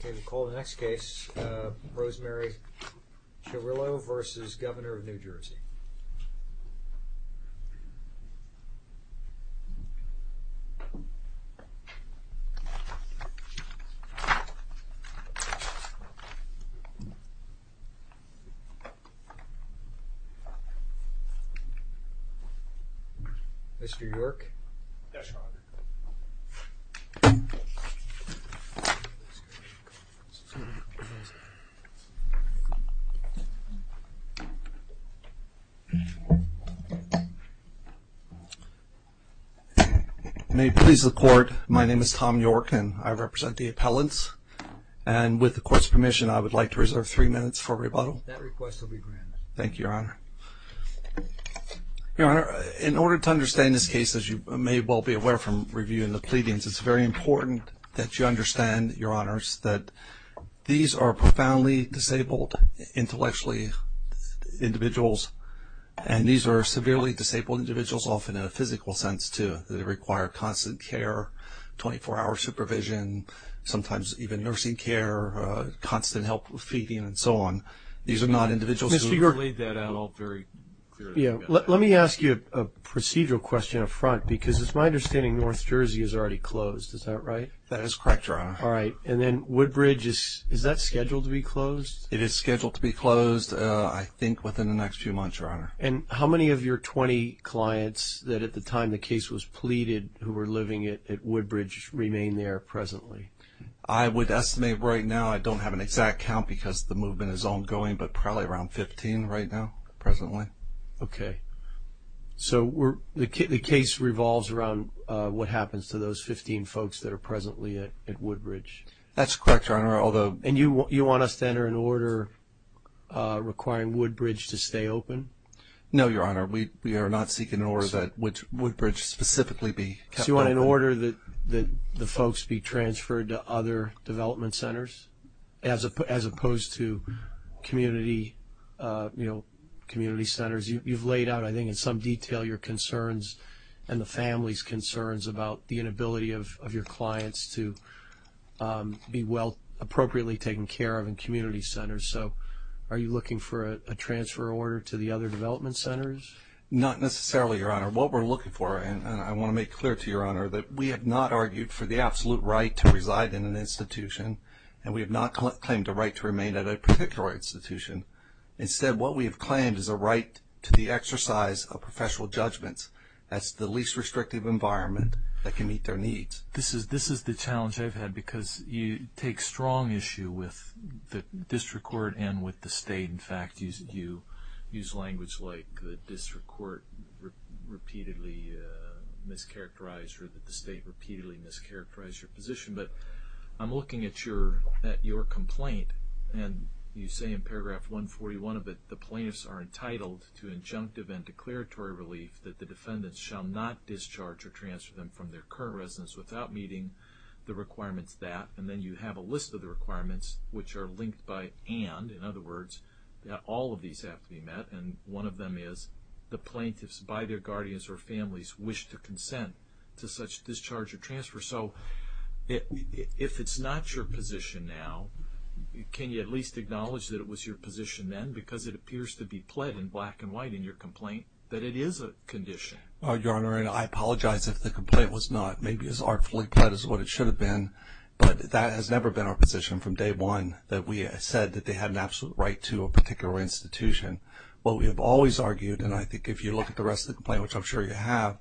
Okay, we'll call the next case. Rosemary Charrillo v. Governor of New Jersey. Mr. York? Yes, Your Honor. May it please the Court, my name is Tom York, and I represent the appellants. And with the Court's permission, I would like to reserve three minutes for rebuttal. That request will be granted. Thank you, Your Honor. Your Honor, in order to understand this case, as you may well be aware from reviewing the pleadings, it's very important that you understand, Your Honors, that these are profoundly disabled intellectually individuals, and these are severely disabled individuals often in a physical sense too. They require constant care, 24-hour supervision, sometimes even nursing care, constant help with feeding and so on. These are not individuals who have laid that out all very clearly. Let me ask you a procedural question up front, because it's my understanding North Jersey is already closed, is that right? That is correct, Your Honor. All right, and then Woodbridge, is that scheduled to be closed? It is scheduled to be closed, I think, within the next few months, Your Honor. And how many of your 20 clients that at the time the case was pleaded who were living at Woodbridge remain there presently? I would estimate right now, I don't have an exact count because the movement is ongoing, but probably around 15 right now, presently. Okay. So the case revolves around what happens to those 15 folks that are presently at Woodbridge. That's correct, Your Honor. And you want us to enter an order requiring Woodbridge to stay open? No, Your Honor. We are not seeking an order that Woodbridge specifically be kept open. So you want an order that the folks be transferred to other development centers as opposed to community centers? You've laid out, I think, in some detail your concerns and the family's concerns about the inability of your clients to be appropriately taken care of in community centers. So are you looking for a transfer order to the other development centers? Not necessarily, Your Honor. What we're looking for, and I want to make clear to Your Honor, that we have not argued for the absolute right to reside in an institution, and we have not claimed a right to remain at a particular institution. Instead, what we have claimed is a right to the exercise of professional judgments. That's the least restrictive environment that can meet their needs. This is the challenge I've had because you take strong issue with the district court and with the state. In fact, you use language like the district court repeatedly mischaracterized or that the state repeatedly mischaracterized your position. But I'm looking at your complaint, and you say in paragraph 141 of it, the plaintiffs are entitled to injunctive and declaratory relief that the defendants shall not discharge or transfer them from their current residence without meeting the requirements of that. And then you have a list of the requirements, which are linked by and. In other words, all of these have to be met, and one of them is the plaintiffs, by their guardians or families, wish to consent to such discharge or transfer. So if it's not your position now, can you at least acknowledge that it was your position then because it appears to be pled in black and white in your complaint that it is a condition? Your Honor, and I apologize if the complaint was not maybe as artfully pled as what it should have been, but that has never been our position from day one that we said that they had an absolute right to a particular institution. What we have always argued, and I think if you look at the rest of the complaint, which I'm sure you have,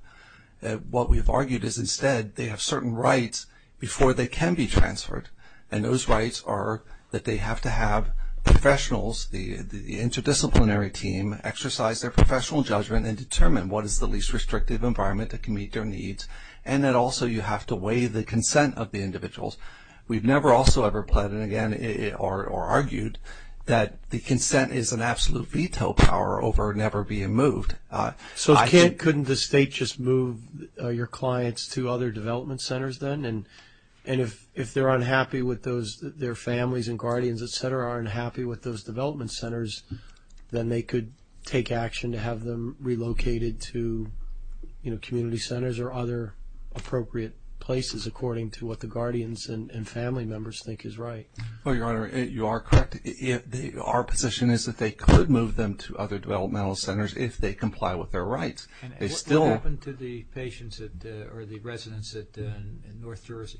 what we've argued is instead they have certain rights before they can be transferred, and those rights are that they have to have professionals, the interdisciplinary team, exercise their professional judgment and determine what is the least restrictive environment that can meet their needs, and that also you have to weigh the consent of the individuals. We've never also ever pled or argued that the consent is an absolute veto power over never being moved. So couldn't the state just move your clients to other development centers then? And if they're unhappy with those, their families and guardians, et cetera, are unhappy with those development centers, then they could take action to have them relocated to community centers or other appropriate places according to what the guardians and family members think is right. Well, Your Honor, you are correct. Our position is that they could move them to other developmental centers if they comply with their rights. And what happened to the patients or the residents in North Jersey?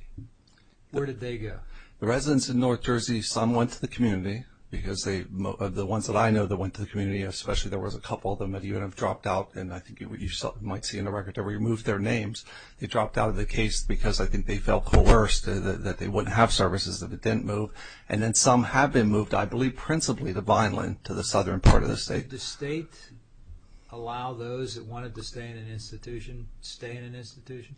Where did they go? The residents in North Jersey, some went to the community, because the ones that I know that went to the community, especially there was a couple of them that even have dropped out, and I think you might see in the record, they removed their names. They dropped out of the case because I think they felt coerced that they wouldn't have services if it didn't move. And then some have been moved, I believe principally to Vineland, to the southern part of the state. Did the state allow those that wanted to stay in an institution to stay in an institution?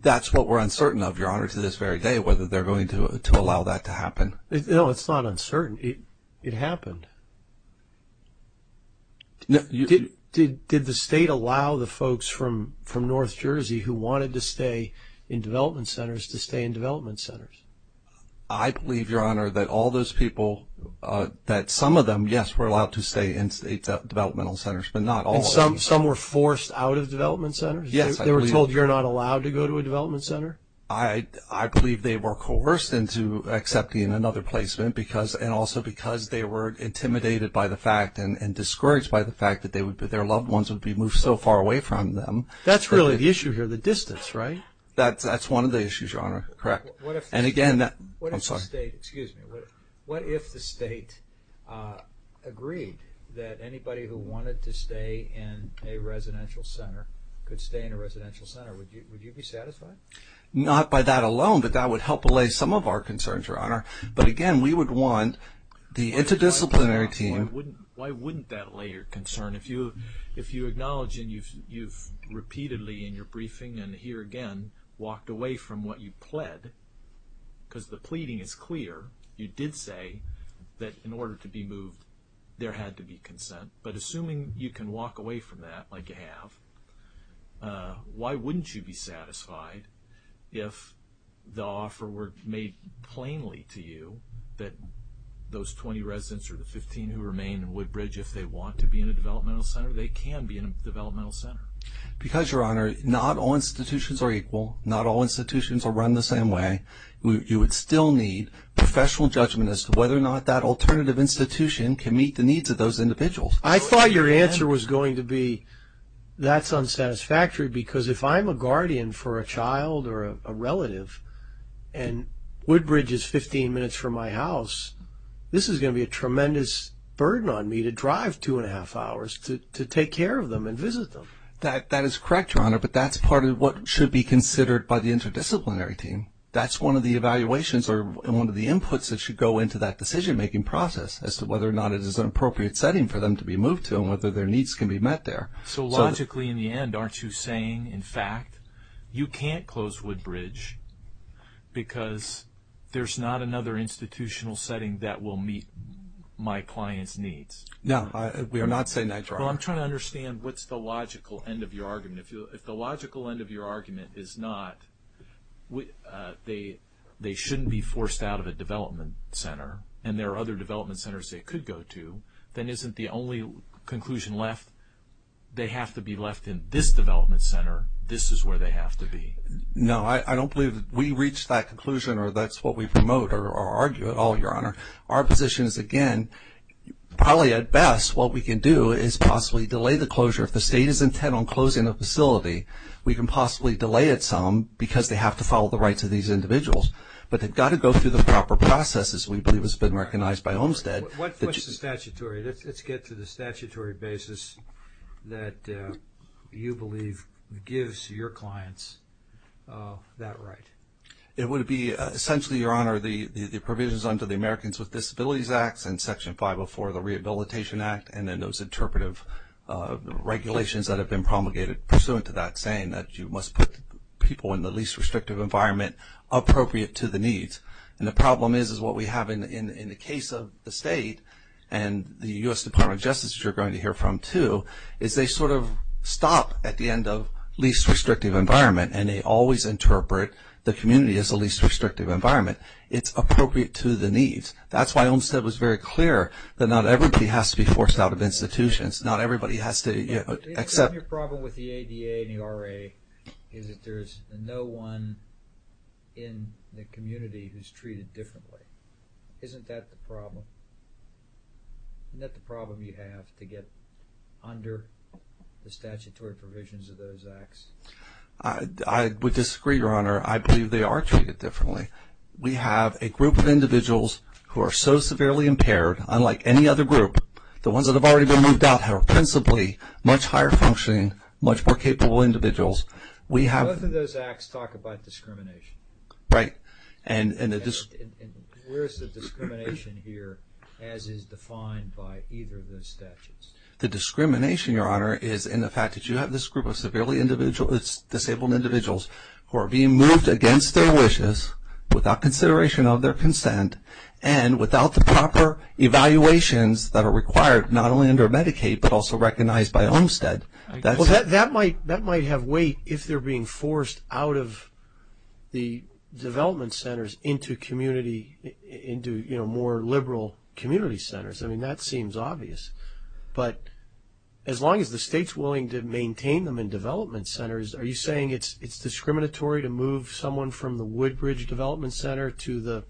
That's what we're uncertain of, Your Honor, to this very day, whether they're going to allow that to happen. No, it's not uncertain. It happened. Did the state allow the folks from North Jersey who wanted to stay in development centers to stay in development centers? I believe, Your Honor, that all those people, that some of them, yes, were allowed to stay in state developmental centers, but not all of them. And some were forced out of development centers? Yes, I believe. They were told you're not allowed to go to a development center? I believe they were coerced into accepting another placement, and also because they were intimidated by the fact and discouraged by the fact that their loved ones would be moved so far away from them. That's really the issue here, the distance, right? That's one of the issues, Your Honor, correct. What if the state agreed that anybody who wanted to stay in a residential center could stay in a residential center? Would you be satisfied? Not by that alone, but that would help allay some of our concerns, Your Honor. But again, we would want the interdisciplinary team. Why wouldn't that allay your concern? If you acknowledge and you've repeatedly in your briefing and here again walked away from what you pled, because the pleading is clear, you did say that in order to be moved there had to be consent, but assuming you can walk away from that like you have, why wouldn't you be satisfied if the offer were made plainly to you that those 20 residents or the 15 who remain in Woodbridge, if they want to be in a developmental center, they can be in a developmental center? Because, Your Honor, not all institutions are equal. Not all institutions are run the same way. You would still need professional judgment as to whether or not that alternative institution can meet the needs of those individuals. I thought your answer was going to be that's unsatisfactory because if I'm a guardian for a child or a relative and Woodbridge is 15 minutes from my house, this is going to be a tremendous burden on me to drive two and a half hours to take care of them and visit them. That is correct, Your Honor, but that's part of what should be considered by the interdisciplinary team. That's one of the evaluations or one of the inputs that should go into that decision-making process as to whether or not it is an appropriate setting for them to be moved to and whether their needs can be met there. So, logically, in the end, aren't you saying, in fact, you can't close Woodbridge because there's not another institutional setting that will meet my client's needs? No, we are not saying that, Your Honor. Well, I'm trying to understand what's the logical end of your argument. If the logical end of your argument is not they shouldn't be forced out of a development center and there are other development centers they could go to, then isn't the only conclusion left they have to be left in this development center? This is where they have to be. No, I don't believe we reached that conclusion or that's what we promote or argue at all, Your Honor. Our position is, again, probably at best what we can do is possibly delay the closure. If the state is intent on closing the facility, we can possibly delay it some because they have to follow the rights of these individuals. But they've got to go through the proper processes we believe has been recognized by Olmstead. What's the statutory? Let's get to the statutory basis that you believe gives your clients that right. It would be essentially, Your Honor, the provisions under the Americans with Disabilities Act and Section 504 of the Rehabilitation Act and then those interpretive regulations that have been promulgated pursuant to that saying that you must put people in the least restrictive environment appropriate to the needs. And the problem is what we have in the case of the state and the U.S. Department of Justice that you're going to hear from too is they sort of stop at the end of least restrictive environment and they always interpret the community as the least restrictive environment. It's appropriate to the needs. That's why Olmstead was very clear that not everybody has to be forced out of institutions. Not everybody has to accept. Your problem with the ADA and the RA is that there's no one in the community who's treated differently. Isn't that the problem? Isn't that the problem you have to get under the statutory provisions of those acts? I would disagree, Your Honor. I believe they are treated differently. We have a group of individuals who are so severely impaired unlike any other group. The ones that have already been moved out are principally much higher functioning, much more capable individuals. Both of those acts talk about discrimination. Right. Where is the discrimination here as is defined by either of those statutes? The discrimination, Your Honor, is in the fact that you have this group of severely disabled individuals who are being moved against their wishes without consideration of their consent and without the proper evaluations that are required not only under Medicaid but also recognized by Olmstead. That might have weight if they're being forced out of the development centers into community, into more liberal community centers. I mean, that seems obvious. But as long as the state's willing to maintain them in development centers, are you saying it's discriminatory to move someone from the Woodbridge Development Center to the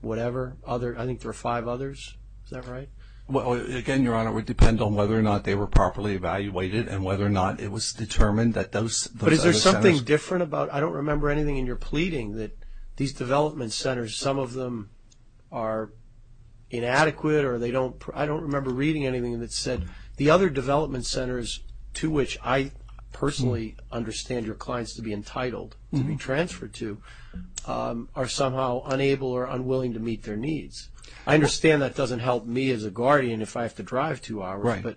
whatever? I think there are five others. Is that right? Again, Your Honor, it would depend on whether or not they were properly evaluated and whether or not it was determined that those other centers. But is there something different about, I don't remember anything in your pleading, that these development centers, some of them are inadequate or they don't, I don't remember reading anything that said, the other development centers to which I personally understand your clients to be entitled to be transferred to are somehow unable or unwilling to meet their needs. I understand that doesn't help me as a guardian if I have to drive two hours. Right.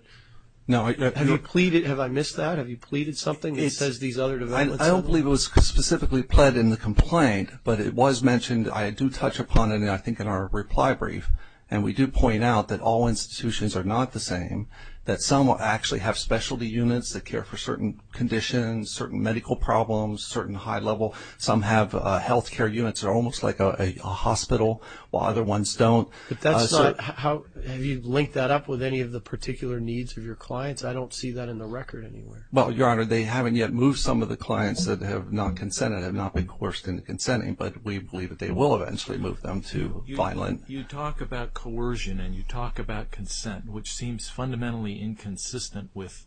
Have you pleaded, have I missed that? Have you pleaded something that says these other development centers? I don't believe it was specifically pled in the complaint, but it was mentioned. I do touch upon it, I think, in our reply brief. And we do point out that all institutions are not the same, that some actually have specialty units that care for certain conditions, certain medical problems, certain high level. Some have health care units that are almost like a hospital, while other ones don't. Have you linked that up with any of the particular needs of your clients? I don't see that in the record anywhere. Well, Your Honor, they haven't yet moved some of the clients that have not consented, have not been coerced into consenting. But we believe that they will eventually move them to Vineland. You talk about coercion and you talk about consent, which seems fundamentally inconsistent with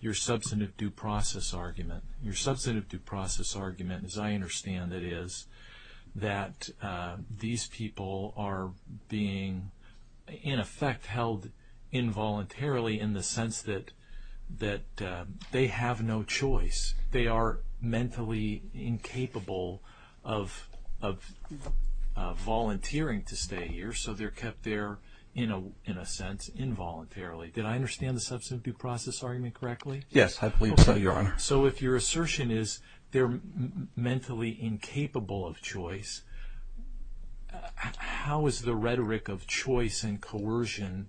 your substantive due process argument. Your substantive due process argument, as I understand it, is that these people are being, in effect, held involuntarily in the sense that they have no choice. They are mentally incapable of volunteering to stay here, so they're kept there, in a sense, involuntarily. Did I understand the substantive due process argument correctly? Yes, I believe so, Your Honor. So if your assertion is they're mentally incapable of choice, how is the rhetoric of choice and coercion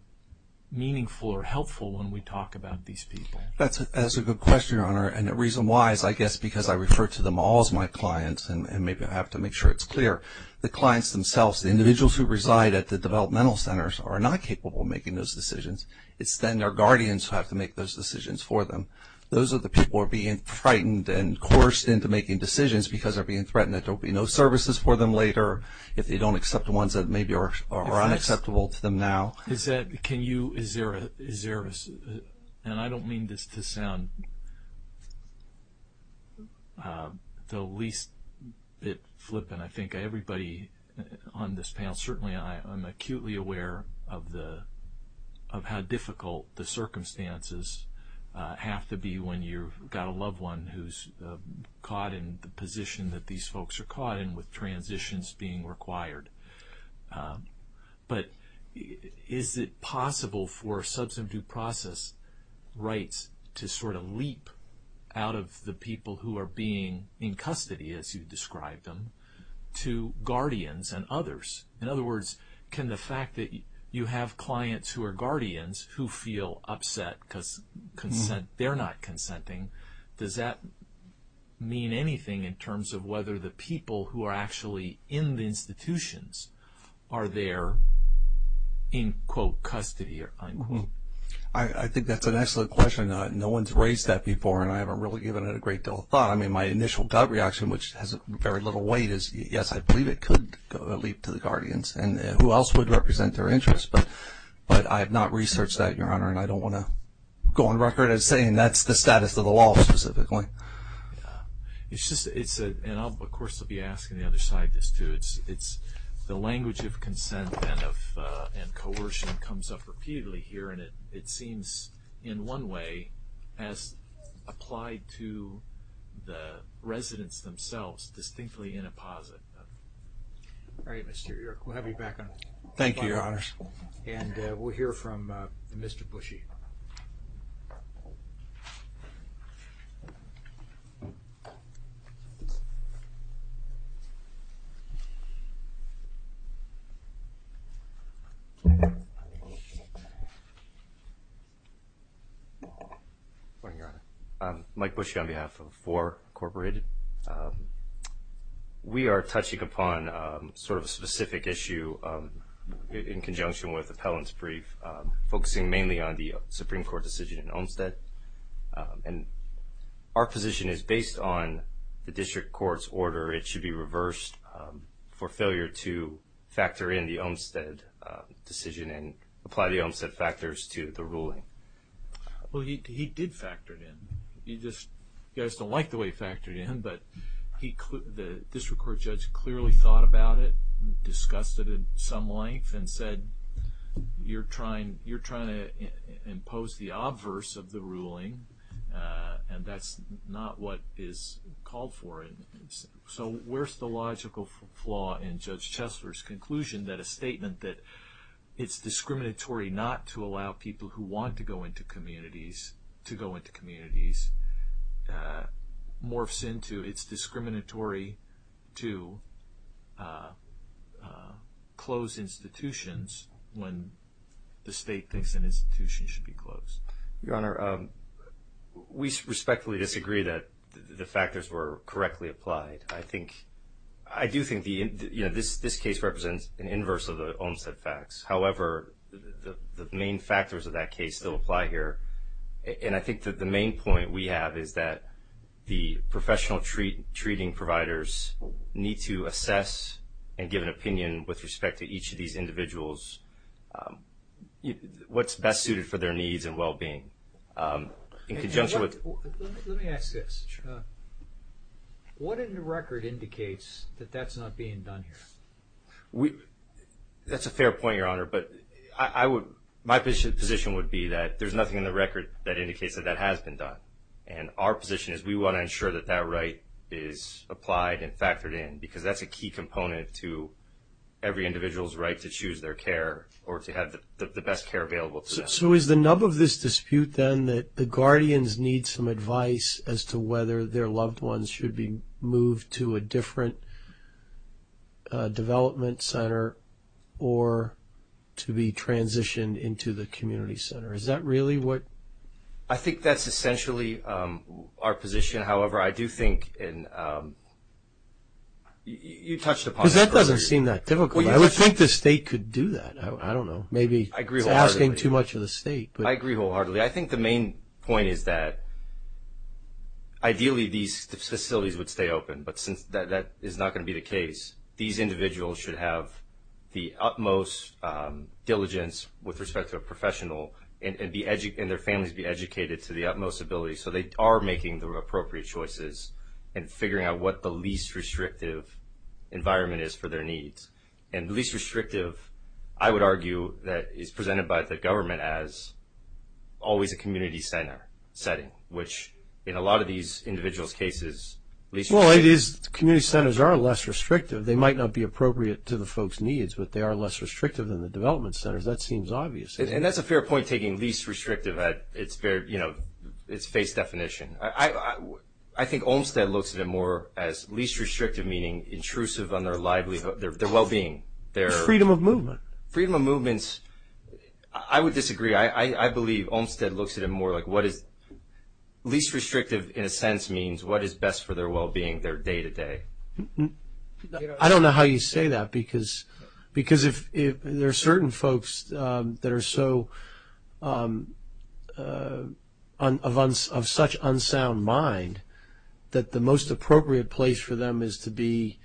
meaningful or helpful when we talk about these people? That's a good question, Your Honor, and the reason why is, I guess, because I refer to them all as my clients, and maybe I have to make sure it's clear. The clients themselves, the individuals who reside at the developmental centers, are not capable of making those decisions. It's then their guardians who have to make those decisions for them. Those are the people who are being frightened and coerced into making decisions because they're being threatened that there will be no services for them later if they don't accept the ones that maybe are unacceptable to them now. Is there a – and I don't mean this to sound the least bit flippant. I think everybody on this panel, certainly, I'm acutely aware of how difficult the circumstances have to be when you've got a loved one who's caught in the position that these folks are caught in with transitions being required. But is it possible for substantive due process rights to sort of leap out of the people who are being in custody, as you described them, to guardians and others? In other words, can the fact that you have clients who are guardians who feel upset because they're not consenting, does that mean anything in terms of whether the people who are actually in the institutions are there in, quote, custody or unquote? I think that's an excellent question. No one's raised that before, and I haven't really given it a great deal of thought. I mean, my initial gut reaction, which has very little weight, is yes, I believe it could leap to the guardians. And who else would represent their interests? But I have not researched that, Your Honor, and I don't want to go on record as saying that's the status of the law specifically. It's just – and, of course, I'll be asking the other side this too. The language of consent and coercion comes up repeatedly here, and it seems in one way as applied to the residents themselves, distinctly in a positive. All right, Mr. York, we'll have you back on the line. Thank you, Your Honors. And we'll hear from Mr. Bushy. Good morning, Your Honor. Mike Bushy on behalf of 4 Incorporated. We are touching upon sort of a specific issue in conjunction with appellant's brief, focusing mainly on the Supreme Court decision in Olmstead. And our position is, based on the district court's order, it should be reversed for failure to factor in the Olmstead decision and apply the Olmstead factors to the ruling. Well, he did factor it in. You guys don't like the way he factored it in, but the district court judge clearly thought about it, discussed it in some length, and said you're trying to impose the obverse of the ruling, and that's not what is called for. So where's the logical flaw in Judge Chesler's conclusion that a statement that it's discriminatory not to allow people who want to go into communities to go into communities morphs into it's discriminatory to close institutions when the state thinks an institution should be closed? Your Honor, we respectfully disagree that the factors were correctly applied. I do think this case represents an inverse of the Olmstead facts. However, the main factors of that case still apply here. And I think that the main point we have is that the professional treating providers need to assess and give an opinion with respect to each of these individuals, what's best suited for their needs and well-being. Let me ask this. What in the record indicates that that's not being done here? That's a fair point, Your Honor, but my position would be that there's nothing in the record that indicates that that has been done. And our position is we want to ensure that that right is applied and factored in, because that's a key component to every individual's right to choose their care or to have the best care available to them. So is the nub of this dispute then that the guardians need some advice as to whether their loved ones should be moved to a different development center or to be transitioned into the community center? Is that really what? I think that's essentially our position. However, I do think you touched upon it. Because that doesn't seem that difficult. I would think the state could do that. I don't know. Maybe it's asking too much of the state. I agree wholeheartedly. I think the main point is that ideally these facilities would stay open, but since that is not going to be the case, these individuals should have the utmost diligence with respect to a professional and their families be educated to the utmost ability so they are making the appropriate choices and figuring out what the least restrictive environment is for their needs. And the least restrictive, I would argue, is presented by the government as always a community center setting, which in a lot of these individuals' cases, least restrictive. Well, it is. Community centers are less restrictive. They might not be appropriate to the folks' needs, but they are less restrictive than the development centers. That seems obvious. And that's a fair point, taking least restrictive at its face definition. I think Olmstead looks at it more as least restrictive, meaning intrusive on their livelihood. Their well-being. Freedom of movement. Freedom of movement. I would disagree. I believe Olmstead looks at it more like what is least restrictive, in a sense, means what is best for their well-being, their day-to-day. I don't know how you say that, because there are certain folks that are of such unsound mind that the most appropriate place for them is to be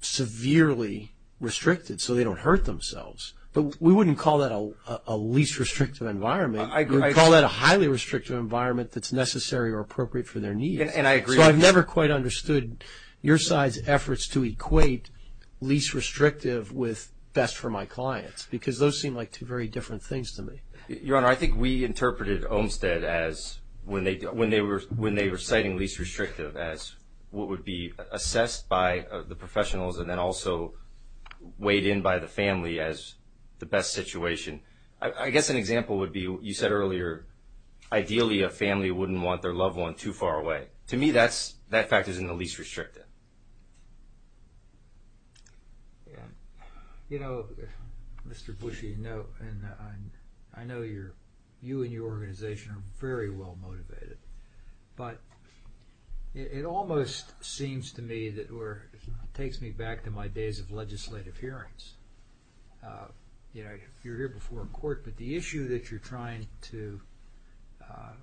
severely restricted so they don't hurt themselves. But we wouldn't call that a least restrictive environment. I agree. We would call that a highly restrictive environment that's necessary or appropriate for their needs. And I agree. So I've never quite understood your side's efforts to equate least restrictive with best for my clients, because those seem like two very different things to me. Your Honor, I think we interpreted Olmstead as when they were citing least restrictive as what would be assessed by the professionals and then also weighed in by the family as the best situation. I guess an example would be, you said earlier, ideally a family wouldn't want their loved one too far away. To me, that factor is in the least restrictive. I agree with that. You know, Mr. Bushy, I know you and your organization are very well motivated, but it almost seems to me that it takes me back to my days of legislative hearings. You were here before in court, but the issue that you're trying to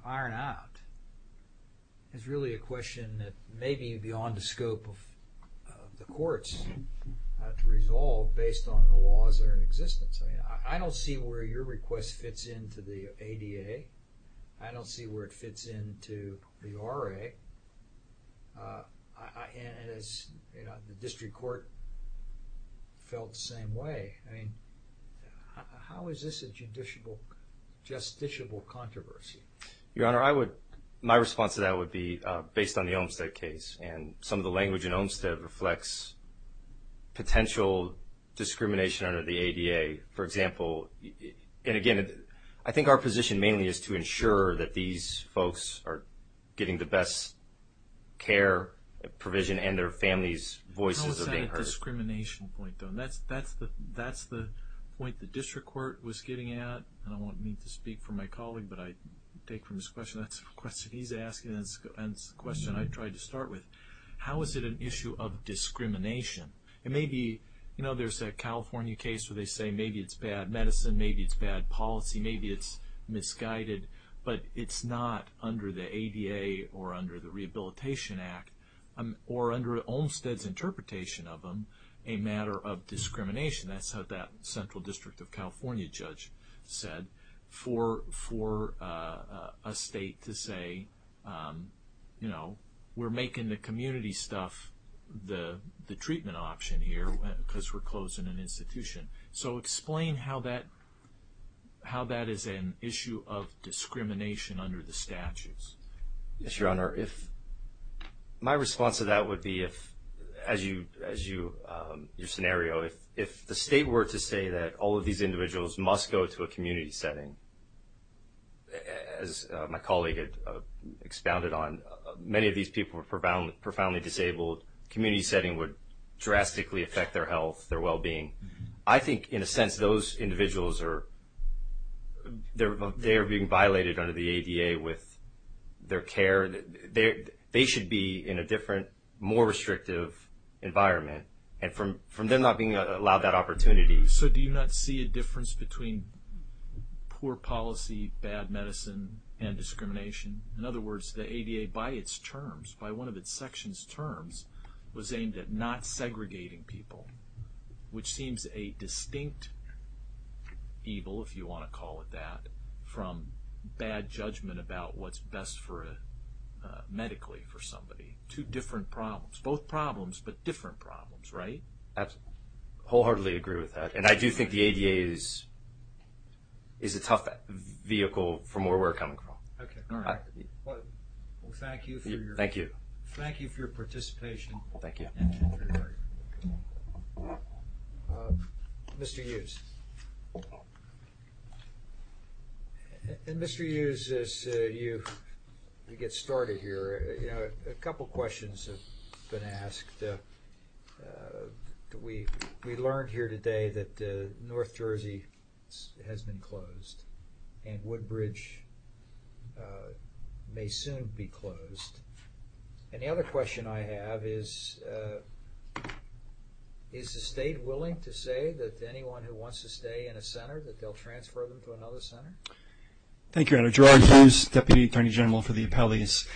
iron out is really a question that may be beyond the scope of the courts to resolve based on the laws that are in existence. I mean, I don't see where your request fits into the ADA. I don't see where it fits into the RA. And the district court felt the same way. I mean, how is this a justiciable controversy? Your Honor, my response to that would be based on the Olmstead case. And some of the language in Olmstead reflects potential discrimination under the ADA. For example, and again, I think our position mainly is to ensure that these folks are getting the best care provision and their families' voices are being heard. How is that a discrimination point, though? That's the point the district court was getting at. I don't want me to speak for my colleague, but I take from his question, that's a question he's asking, and it's a question I tried to start with. How is it an issue of discrimination? And maybe there's a California case where they say maybe it's bad medicine, maybe it's bad policy, maybe it's misguided, but it's not under the ADA or under the Rehabilitation Act or under Olmstead's interpretation of them a matter of discrimination. That's what that Central District of California judge said for a state to say, you know, we're making the community stuff the treatment option here because we're closing an institution. So explain how that is an issue of discrimination under the statutes. Yes, Your Honor. My response to that would be, as your scenario, if the state were to say that all of these individuals must go to a community setting, as my colleague expounded on, many of these people are profoundly disabled, community setting would drastically affect their health, their well-being. I think in a sense those individuals are, they're being violated under the ADA with their care. They should be in a different, more restrictive environment. And from them not being allowed that opportunity. So do you not see a difference between poor policy, bad medicine, and discrimination? In other words, the ADA by its terms, by one of its section's terms, was aimed at not segregating people, which seems a distinct evil, if you want to call it that, from bad judgment about what's best medically for somebody. Two different problems. Both problems, but different problems, right? Absolutely. I wholeheartedly agree with that. And I do think the ADA is a tough vehicle from where we're coming from. Okay, all right. Well, thank you. Thank you. Thank you for your participation. Thank you. Mr. Hughes. And Mr. Hughes, as you get started here, a couple questions have been asked. We learned here today that North Jersey has been closed and Woodbridge may soon be closed. And the other question I have is, is the state willing to say that anyone who wants to stay in a center, that they'll transfer them to another center? Thank you, Your Honor. Gerard Hughes, Deputy Attorney General for the Appellees.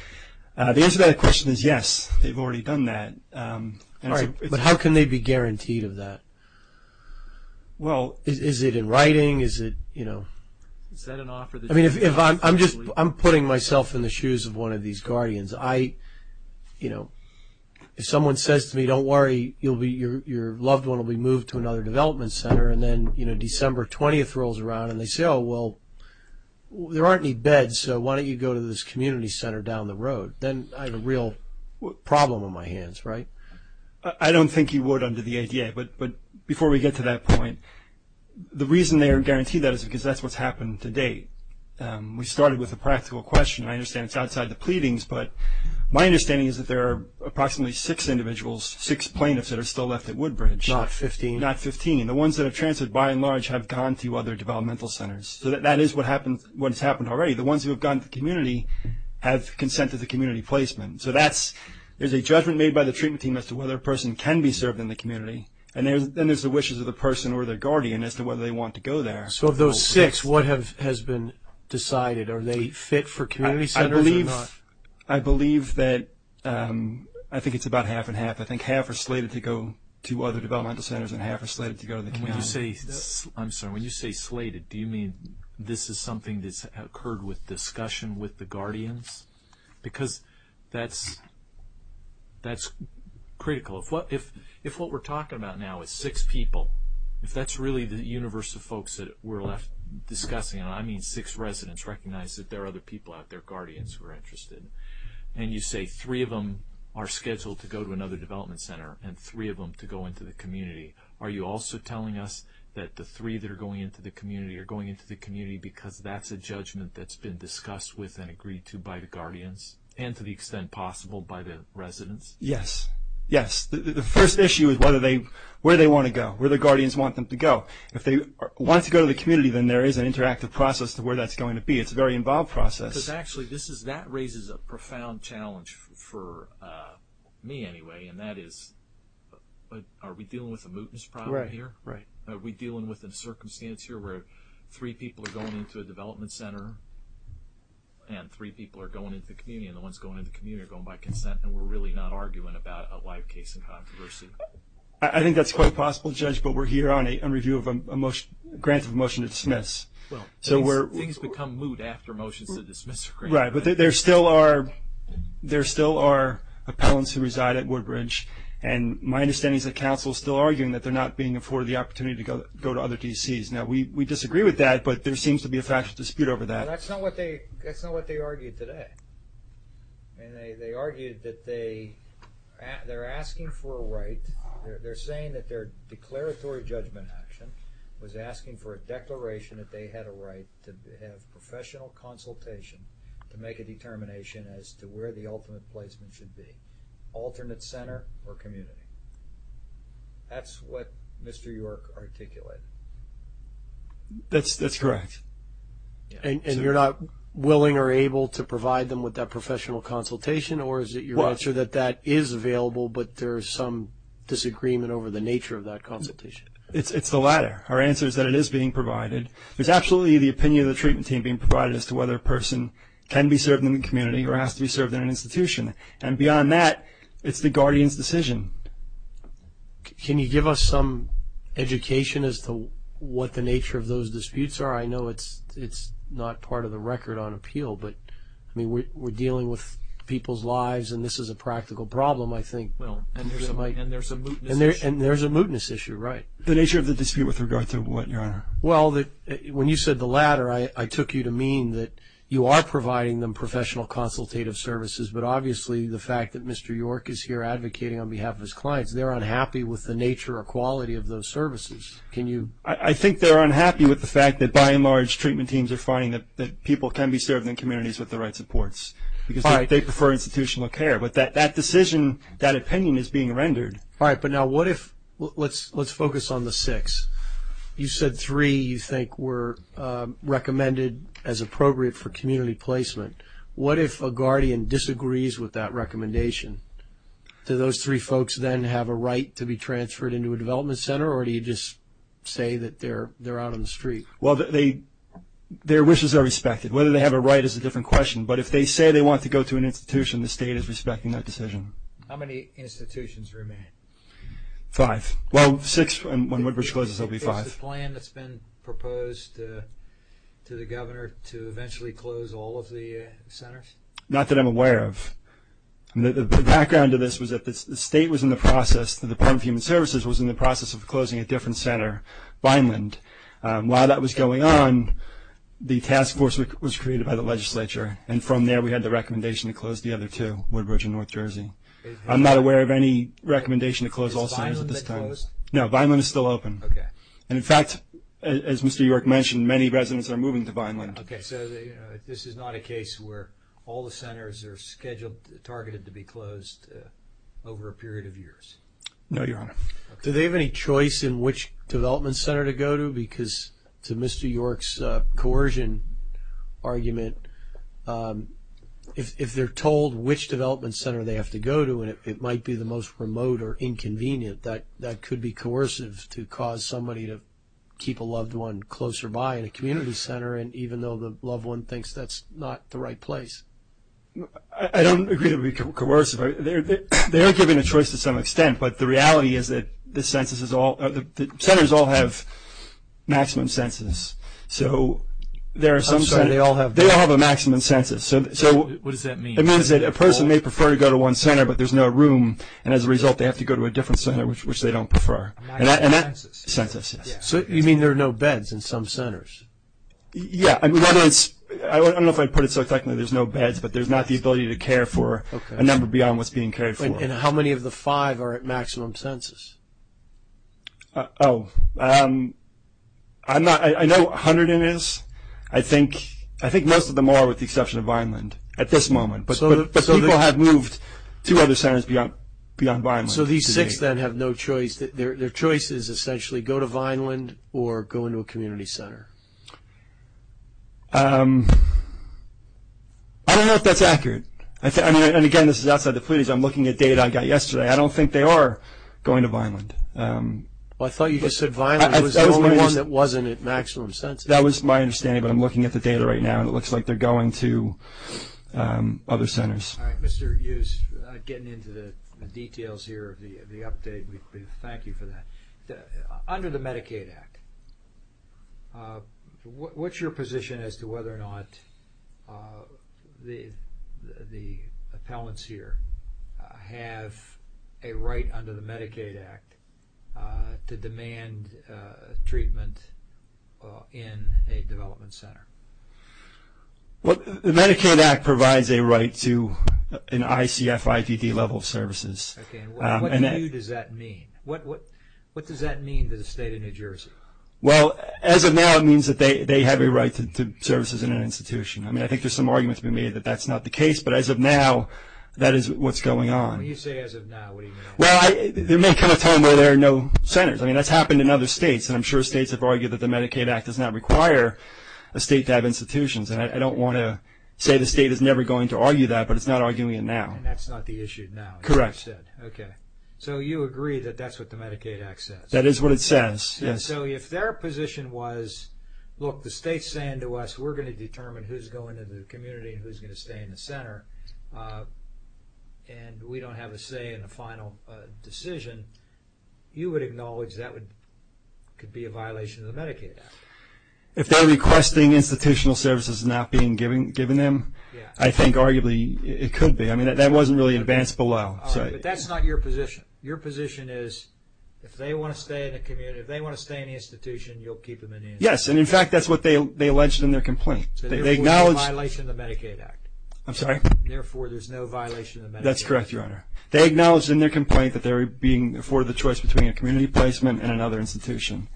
The answer to that question is yes. They've already done that. All right, but how can they be guaranteed of that? Is it in writing? I'm putting myself in the shoes of one of these guardians. If someone says to me, don't worry, your loved one will be moved to another development center, and then December 20th rolls around and they say, oh, well, there aren't any beds, so why don't you go to this community center down the road? Then I have a real problem on my hands, right? I don't think you would under the ADA, but before we get to that point, the reason they are guaranteed that is because that's what's happened to date. We started with a practical question. I understand it's outside the pleadings, but my understanding is that there are approximately six individuals, six plaintiffs, that are still left at Woodbridge. Not 15. Not 15. And the ones that have transferred, by and large, have gone to other developmental centers. So that is what has happened already. The ones who have gone to the community have consent to the community placement. So there's a judgment made by the treatment team as to whether a person can be served in the community, and then there's the wishes of the person or the guardian as to whether they want to go there. So of those six, what has been decided? Are they fit for community centers or not? I believe that I think it's about half and half. I think half are slated to go to other developmental centers and half are slated to go to the community. When you say slated, do you mean this is something that's occurred with discussion with the guardians? Because that's critical. If what we're talking about now is six people, if that's really the universe of folks that we're left discussing, and I mean six residents recognize that there are other people out there, guardians who are interested, and you say three of them are scheduled to go to another development center and three of them to go into the community, are you also telling us that the three that are going into the community are going into the community because that's a judgment that's been discussed with and agreed to by the guardians and to the extent possible by the residents? Yes. Yes. The first issue is where they want to go, where the guardians want them to go. If they want to go to the community, then there is an interactive process to where that's going to be. It's a very involved process. Because actually that raises a profound challenge for me anyway, and that is are we dealing with a mootness problem here? Right. Are we dealing with a circumstance here where three people are going into a development center and three people are going into the community, and the ones going into the community are going by consent and we're really not arguing about a live case in controversy? I think that's quite possible, Judge, but we're here on a grant of a motion to dismiss. Well, things become moot after motions to dismiss are granted. Right, but there still are appellants who reside at Woodbridge, and my understanding is the council is still arguing that they're not being afforded the opportunity to go to other D.C.s. Now, we disagree with that, but there seems to be a factual dispute over that. That's not what they argued today. They argued that they're asking for a right. They're saying that their declaratory judgment action was asking for a declaration that they had a right to have professional consultation to make a determination as to where the ultimate placement should be, alternate center or community. That's what Mr. York articulated. That's correct. And you're not willing or able to provide them with that professional consultation, or is it your answer that that is available, but there is some disagreement over the nature of that consultation? It's the latter. Our answer is that it is being provided. There's absolutely the opinion of the treatment team being provided as to whether a person can be served in the community or has to be served in an institution, and beyond that, it's the guardian's decision. Can you give us some education as to what the nature of those disputes are? I know it's not part of the record on appeal, but, I mean, we're dealing with people's lives, and this is a practical problem, I think. Well, and there's a mootness issue. And there's a mootness issue, right. The nature of the dispute with regard to what, Your Honor? Well, when you said the latter, I took you to mean that you are providing them professional consultative services, but obviously the fact that Mr. York is here advocating on behalf of his clients, they're unhappy with the nature or quality of those services. I think they're unhappy with the fact that, by and large, treatment teams are finding that people can be served in communities with the right supports because they prefer institutional care. But that decision, that opinion is being rendered. All right, but now what if, let's focus on the six. You said three you think were recommended as appropriate for community placement. What if a guardian disagrees with that recommendation? Do those three folks then have a right to be transferred into a development center, or do you just say that they're out on the street? Well, their wishes are respected. Whether they have a right is a different question. But if they say they want to go to an institution, the state is respecting that decision. How many institutions remain? Five. Well, six when Woodbridge closes, there will be five. Is this a plan that's been proposed to the governor to eventually close all of the centers? Not that I'm aware of. The background to this was that the state was in the process, the Department of Human Services was in the process of closing a different center, Vineland. While that was going on, the task force was created by the legislature, and from there we had the recommendation to close the other two, Woodbridge and North Jersey. I'm not aware of any recommendation to close all centers at this time. Is Vineland closed? No, Vineland is still open. Okay. And, in fact, as Mr. York mentioned, many residents are moving to Vineland. Okay. So this is not a case where all the centers are scheduled, targeted to be closed over a period of years? No, Your Honor. Do they have any choice in which development center to go to? Because to Mr. York's coercion argument, if they're told which development center they have to go to, and it might be the most remote or inconvenient, that could be coercive to cause somebody to keep a loved one closer by in a community center, and even though the loved one thinks that's not the right place. I don't agree that it would be coercive. They are given a choice to some extent, but the reality is that the centers all have maximum census. I'm sorry, they all have what? They all have a maximum census. What does that mean? It means that a person may prefer to go to one center, but there's no room, and as a result they have to go to a different center, which they don't prefer. A maximum census? A census, yes. So you mean there are no beds in some centers? Yeah. I don't know if I'd put it so technically there's no beds, but there's not the ability to care for a number beyond what's being cared for. And how many of the five are at maximum census? Oh, I know what 100 is. I think most of them are with the exception of Vineland at this moment, but people have moved to other centers beyond Vineland. So these six, then, have no choice. Their choice is essentially go to Vineland or go into a community center. I don't know if that's accurate. And, again, this is outside the please. I'm looking at data I got yesterday. I don't think they are going to Vineland. I thought you just said Vineland was the only one that wasn't at maximum census. That was my understanding, but I'm looking at the data right now, and it looks like they're going to other centers. All right. Mr. Hughes, getting into the details here of the update, we thank you for that. Under the Medicaid Act, what's your position as to whether or not the appellants here have a right under the Medicaid Act to demand treatment in a development center? The Medicaid Act provides a right to an ICF-IPD level of services. Okay, and what to you does that mean? What does that mean to the state of New Jersey? Well, as of now, it means that they have a right to services in an institution. I mean, I think there's some argument to be made that that's not the case, but as of now, that is what's going on. When you say as of now, what do you mean? Well, there may come a time where there are no centers. I mean, that's happened in other states, and I'm sure states have argued that the Medicaid Act does not require a state to have institutions. And I don't want to say the state is never going to argue that, but it's not arguing it now. And that's not the issue now? Correct. Okay. So you agree that that's what the Medicaid Act says? That is what it says, yes. And so if their position was, look, the state's saying to us, we're going to determine who's going in the community and who's going to stay in the center, and we don't have a say in the final decision, you would acknowledge that could be a violation of the Medicaid Act? If they're requesting institutional services not being given them, I think arguably it could be. I mean, that wasn't really advanced below. All right, but that's not your position. Your position is if they want to stay in the community, if they want to stay in the institution, you'll keep them in the institution? Yes, and, in fact, that's what they alleged in their complaint. So therefore, it's a violation of the Medicaid Act? I'm sorry? Therefore, there's no violation of the Medicaid Act? That's correct, Your Honor. They acknowledged in their complaint that they were being afforded the choice between a community placement and another institution,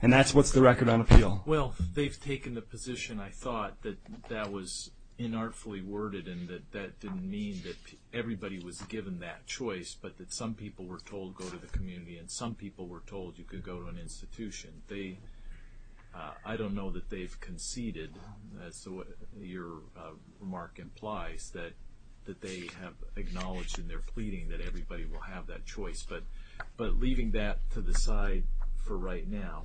and that's what's the record on appeal. Well, they've taken the position, I thought, that that was inartfully worded and that that didn't mean that everybody was given that choice, but that some people were told go to the community and some people were told you could go to an institution. I don't know that they've conceded, as your remark implies, that they have acknowledged in their pleading that everybody will have that choice. But leaving that to the side for right now,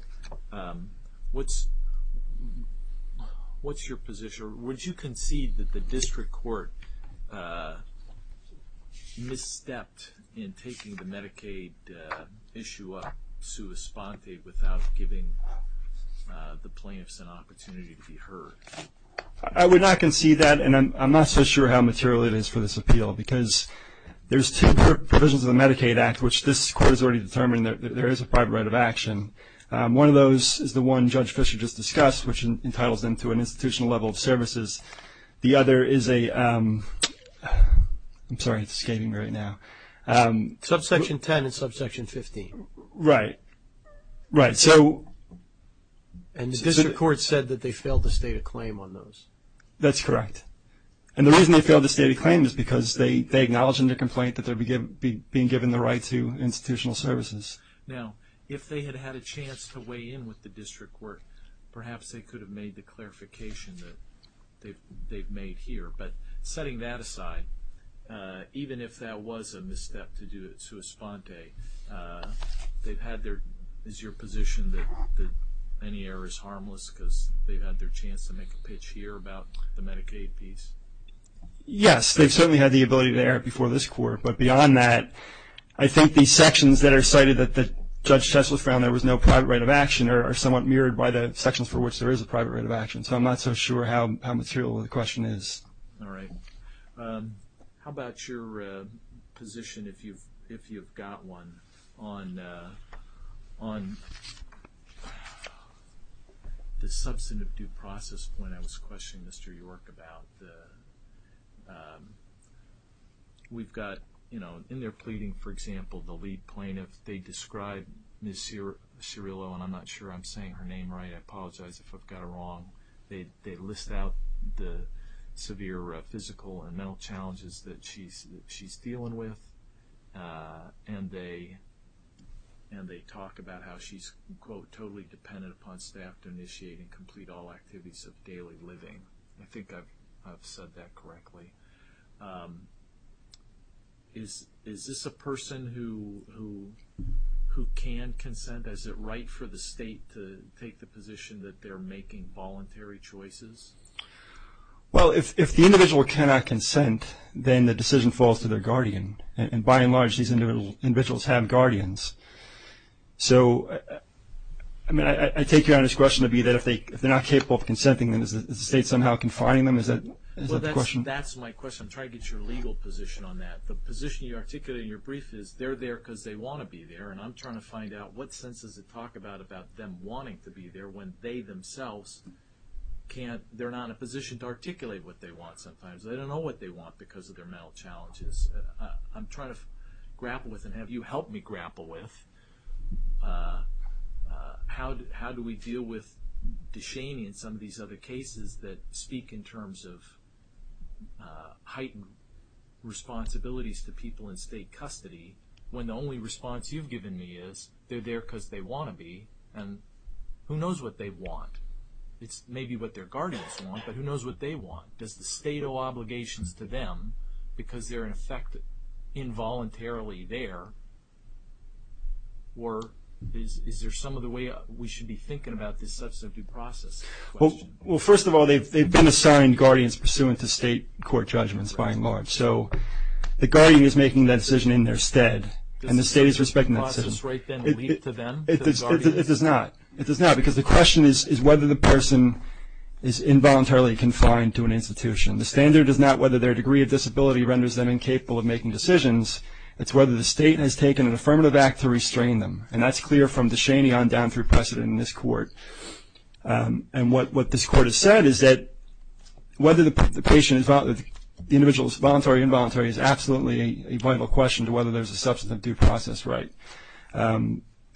what's your position? Your Honor, would you concede that the district court misstepped in taking the Medicaid issue up sua sponte without giving the plaintiffs an opportunity to be heard? I would not concede that, and I'm not so sure how material it is for this appeal because there's two provisions of the Medicaid Act, which this court has already determined that there is a private right of action. One of those is the one Judge Fischer just discussed, which entitles them to an institutional level of services. The other is a – I'm sorry, it's escaping me right now. Subsection 10 and subsection 15. Right. Right. And the district court said that they failed to state a claim on those. That's correct. And the reason they failed to state a claim is because they acknowledge in their complaint that they're being given the right to institutional services. Now, if they had had a chance to weigh in with the district court, perhaps they could have made the clarification that they've made here. But setting that aside, even if that was a misstep to do it sua sponte, they've had their – is your position that any error is harmless because they've had their chance to make a pitch here about the Medicaid piece? Yes, they've certainly had the ability to err before this court. But beyond that, I think these sections that are cited that Judge Tessler found there was no private right of action are somewhat mirrored by the sections for which there is a private right of action. So I'm not so sure how material the question is. All right. How about your position, if you've got one, on the substantive due process point I was questioning Mr. York about? We've got, you know, in their pleading, for example, the lead plaintiff, they describe Ms. Cirillo, and I'm not sure I'm saying her name right. I apologize if I've got it wrong. They list out the severe physical and mental challenges that she's dealing with, and they talk about how she's, quote, totally dependent upon staff to initiate and complete all activities of daily living. I think I've said that correctly. Is this a person who can consent? Is it right for the state to take the position that they're making voluntary choices? Well, if the individual cannot consent, then the decision falls to their guardian. And by and large, these individuals have guardians. So, I mean, I take your honest question to be that if they're not capable of consenting, then is the state somehow confining them? Is that the question? Well, that's my question. I'm trying to get your legal position on that. The position you articulate in your brief is they're there because they want to be there, and I'm trying to find out what sense does it talk about about them wanting to be there when they themselves can't, they're not in a position to articulate what they want sometimes. They don't know what they want because of their mental challenges. I'm trying to grapple with, and have you helped me grapple with, how do we deal with Deshaney and some of these other cases that speak in terms of heightened responsibilities to people in state custody when the only response you've given me is they're there because they want to be, and who knows what they want? It's maybe what their guardians want, but who knows what they want? Does the state owe obligations to them because they're, in effect, involuntarily there, or is there some other way we should be thinking about this substantive process question? Well, first of all, they've been assigned guardians pursuant to state court judgments by and large. So the guardian is making that decision in their stead, and the state is respecting that decision. Does the substantive process right then lead to them, to the guardians? It does not. It does not because the question is whether the person is involuntarily confined to an institution. The standard is not whether their degree of disability renders them incapable of making decisions. It's whether the state has taken an affirmative act to restrain them, and that's clear from Deshaney on down through precedent in this court. And what this court has said is that whether the individual is voluntary or involuntary is absolutely a vital question to whether there's a substantive due process right.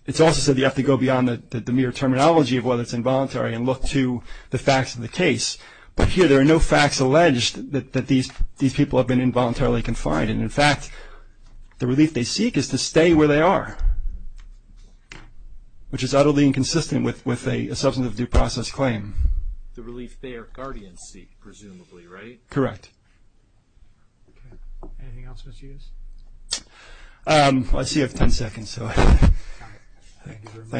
It's also said you have to go beyond the mere terminology of whether it's involuntary and look to the facts of the case. But here there are no facts alleged that these people have been involuntarily confined. And, in fact, the relief they seek is to stay where they are, which is utterly inconsistent with a substantive due process claim. The relief their guardians seek, presumably, right? Correct. Anything else, Mr. Hughes? Let's see, I have ten seconds. Thank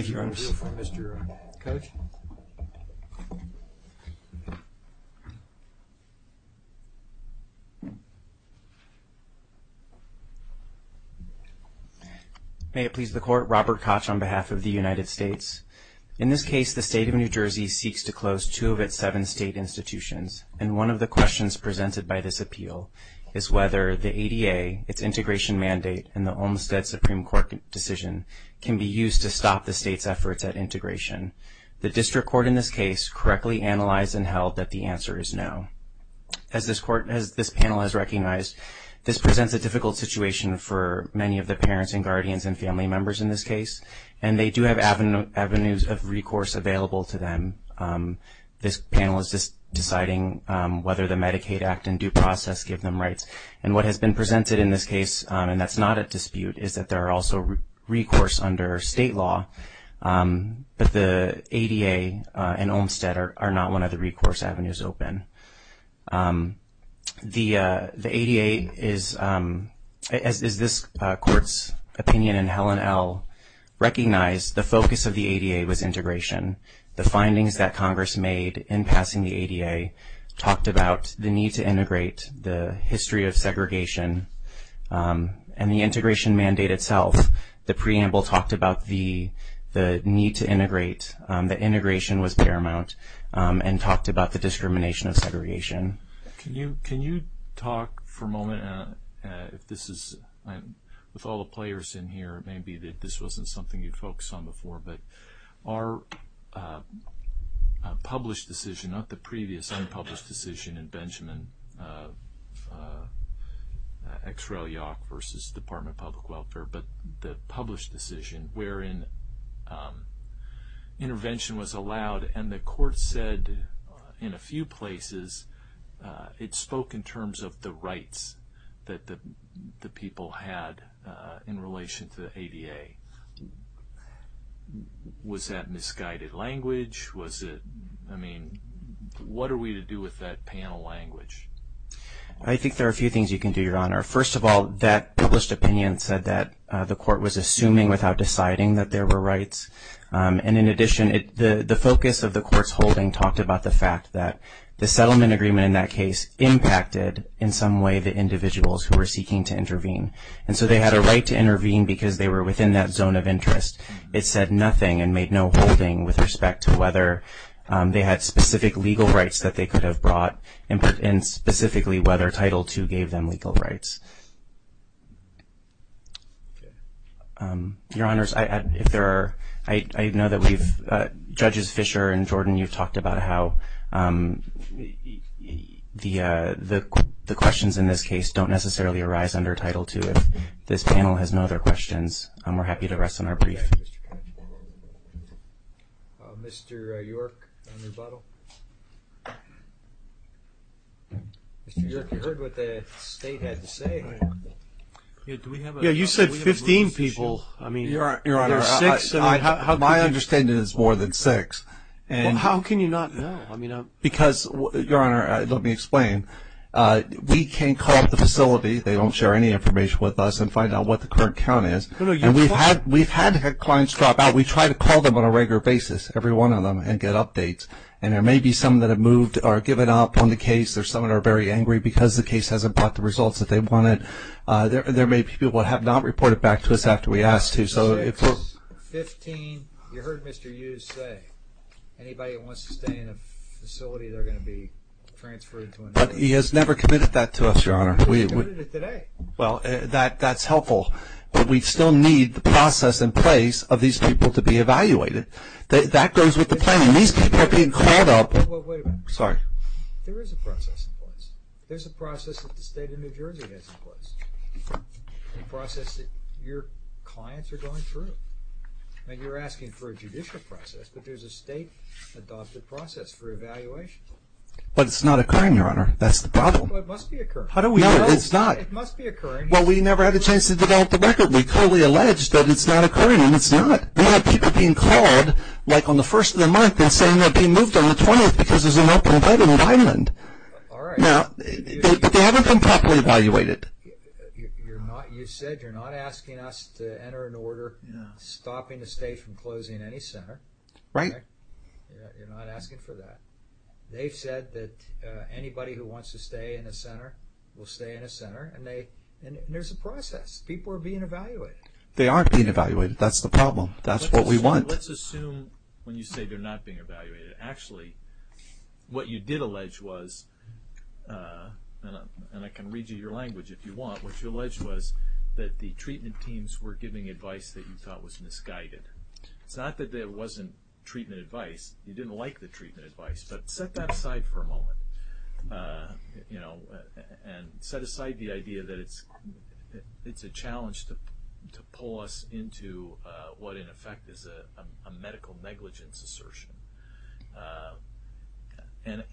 you, Your Honor. Mr. Koch? May it please the Court. Robert Koch on behalf of the United States. In this case, the state of New Jersey seeks to close two of its seven state institutions, and one of the questions presented by this appeal is whether the ADA, its integration mandate, and the Olmstead Supreme Court decision can be used to stop the state's efforts at integration. The district court in this case correctly analyzed and held that the answer is no. As this panel has recognized, this presents a difficult situation for many of the parents and guardians and family members in this case, and they do have avenues of recourse available to them. This panel is just deciding whether the Medicaid Act and due process give them rights. And what has been presented in this case, and that's not a dispute, is that there are also recourse under state law, but the ADA and Olmstead are not one of the recourse avenues open. The ADA is, as this Court's opinion in Helen L. recognized, the focus of the ADA was integration. The findings that Congress made in passing the ADA talked about the need to integrate, the history of segregation, and the integration mandate itself. The preamble talked about the need to integrate. The integration was paramount and talked about the discrimination of segregation. Can you talk for a moment, with all the players in here, maybe this wasn't something you'd focus on before, but our published decision, not the previous unpublished decision in Benjamin X. Rel. Yauch v. Department of Public Welfare, but the published decision wherein intervention was allowed, and the Court said in a few places it spoke in terms of the rights that the people had in relation to the ADA. Was that misguided language? What are we to do with that panel language? I think there are a few things you can do, Your Honor. First of all, that published opinion said that the Court was assuming without deciding that there were rights. In addition, the focus of the Court's holding talked about the fact that the settlement agreement in that case impacted in some way the individuals who were seeking to intervene. And so they had a right to intervene because they were within that zone of interest. It said nothing and made no holding with respect to whether they had specific legal rights that they could have brought and specifically whether Title II gave them legal rights. Your Honors, I know that Judges Fischer and Jordan, you've talked about how the questions in this case don't necessarily arise under Title II. If this panel has no other questions, we're happy to rest on our brief. Mr. York, on rebuttal. Mr. York, you heard what the State had to say. You said 15 people. Your Honor, my understanding is more than six. How can you not know? Because, Your Honor, let me explain. We can call up the facility. They don't share any information with us and find out what the current count is. We've had clients drop out. We try to call them on a regular basis, every one of them, and get updates. And there may be some that have moved or given up on the case. Some are very angry because the case hasn't brought the results that they wanted. There may be people who have not reported back to us after we asked to. You heard Mr. Hughes say anybody that wants to stay in a facility, they're going to be transferred to another facility. But he has never committed that to us, Your Honor. He started it today. Well, that's helpful. But we still need the process in place of these people to be evaluated. That goes with the planning. These people are being called up. Wait a minute. Sorry. There is a process in place. There's a process that the State of New Jersey has in place, a process that your clients are going through. And you're asking for a judicial process, but there's a state-adopted process for evaluation. But it's not occurring, Your Honor. That's the problem. Well, it must be occurring. No, it's not. It must be occurring. Well, we never had a chance to develop the record. We fully allege that it's not occurring, and it's not. We have people being called, like on the first of the month, and saying they're being moved on the 20th because there's an open bed in an island. All right. But they haven't been properly evaluated. You said you're not asking us to enter an order stopping the state from closing any center. Right. You're not asking for that. They've said that anybody who wants to stay in a center will stay in a center, and there's a process. People are being evaluated. They aren't being evaluated. That's the problem. That's what we want. Let's assume when you say they're not being evaluated, actually what you did allege was, and I can read you your language if you want, what you alleged was that the treatment teams were giving advice that you thought was misguided. It's not that there wasn't treatment advice. You didn't like the treatment advice. But set that aside for a moment, you know, and set aside the idea that it's a challenge to pull us into what, in effect, is a medical negligence assertion. And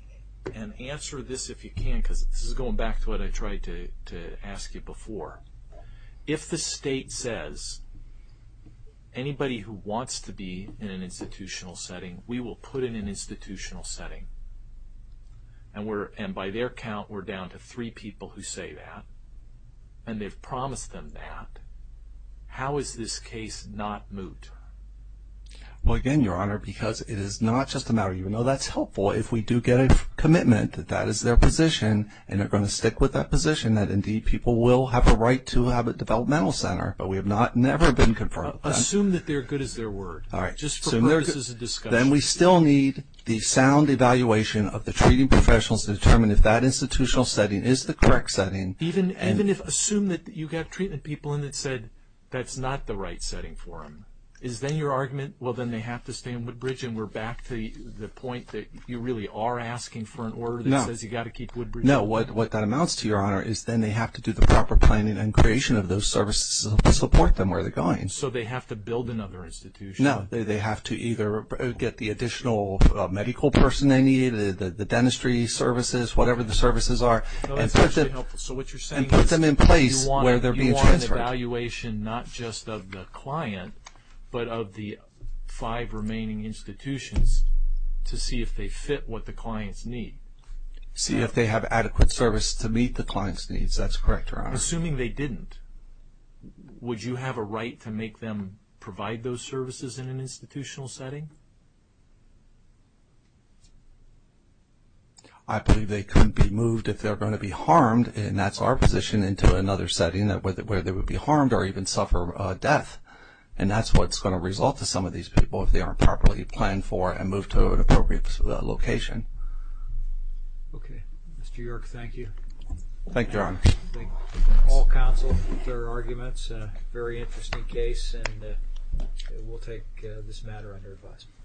answer this if you can, because this is going back to what I tried to ask you before. If the state says anybody who wants to be in an institutional setting, we will put in an institutional setting, and by their count we're down to three people who say that, and they've promised them that, how is this case not moot? Well, again, Your Honor, because it is not just a matter of, you know, that's helpful if we do get a commitment that that is their position and they're going to stick with that position, that indeed people will have a right to have a developmental center, but we have not never been confirmed. Assume that they're good as their word. All right. Just for purposes of discussion. Then we still need the sound evaluation of the treating professionals to determine if that institutional setting is the correct setting. Even if assume that you've got treatment people in that said that's not the right setting for them. Is then your argument, well, then they have to stay in Woodbridge and we're back to the point that you really are asking for an order that says you've got to keep Woodbridge. No, what that amounts to, Your Honor, is then they have to do the proper planning and creation of those services to support them where they're going. So they have to build another institution. No, they have to either get the additional medical person they need, the dentistry services, whatever the services are, and put them in place where they're being transferred. You want an evaluation not just of the client, but of the five remaining institutions to see if they fit what the clients need. See if they have adequate service to meet the client's needs. That's correct, Your Honor. Assuming they didn't, would you have a right to make them provide those services in an institutional setting? I believe they couldn't be moved if they're going to be harmed, and that's our position, into another setting where they would be harmed or even suffer death. And that's what's going to result to some of these people if they aren't properly planned for and moved to an appropriate location. Mr. York, thank you. Thank you, Your Honor. I think all counsel with their arguments. A very interesting case, and we'll take this matter under advisement.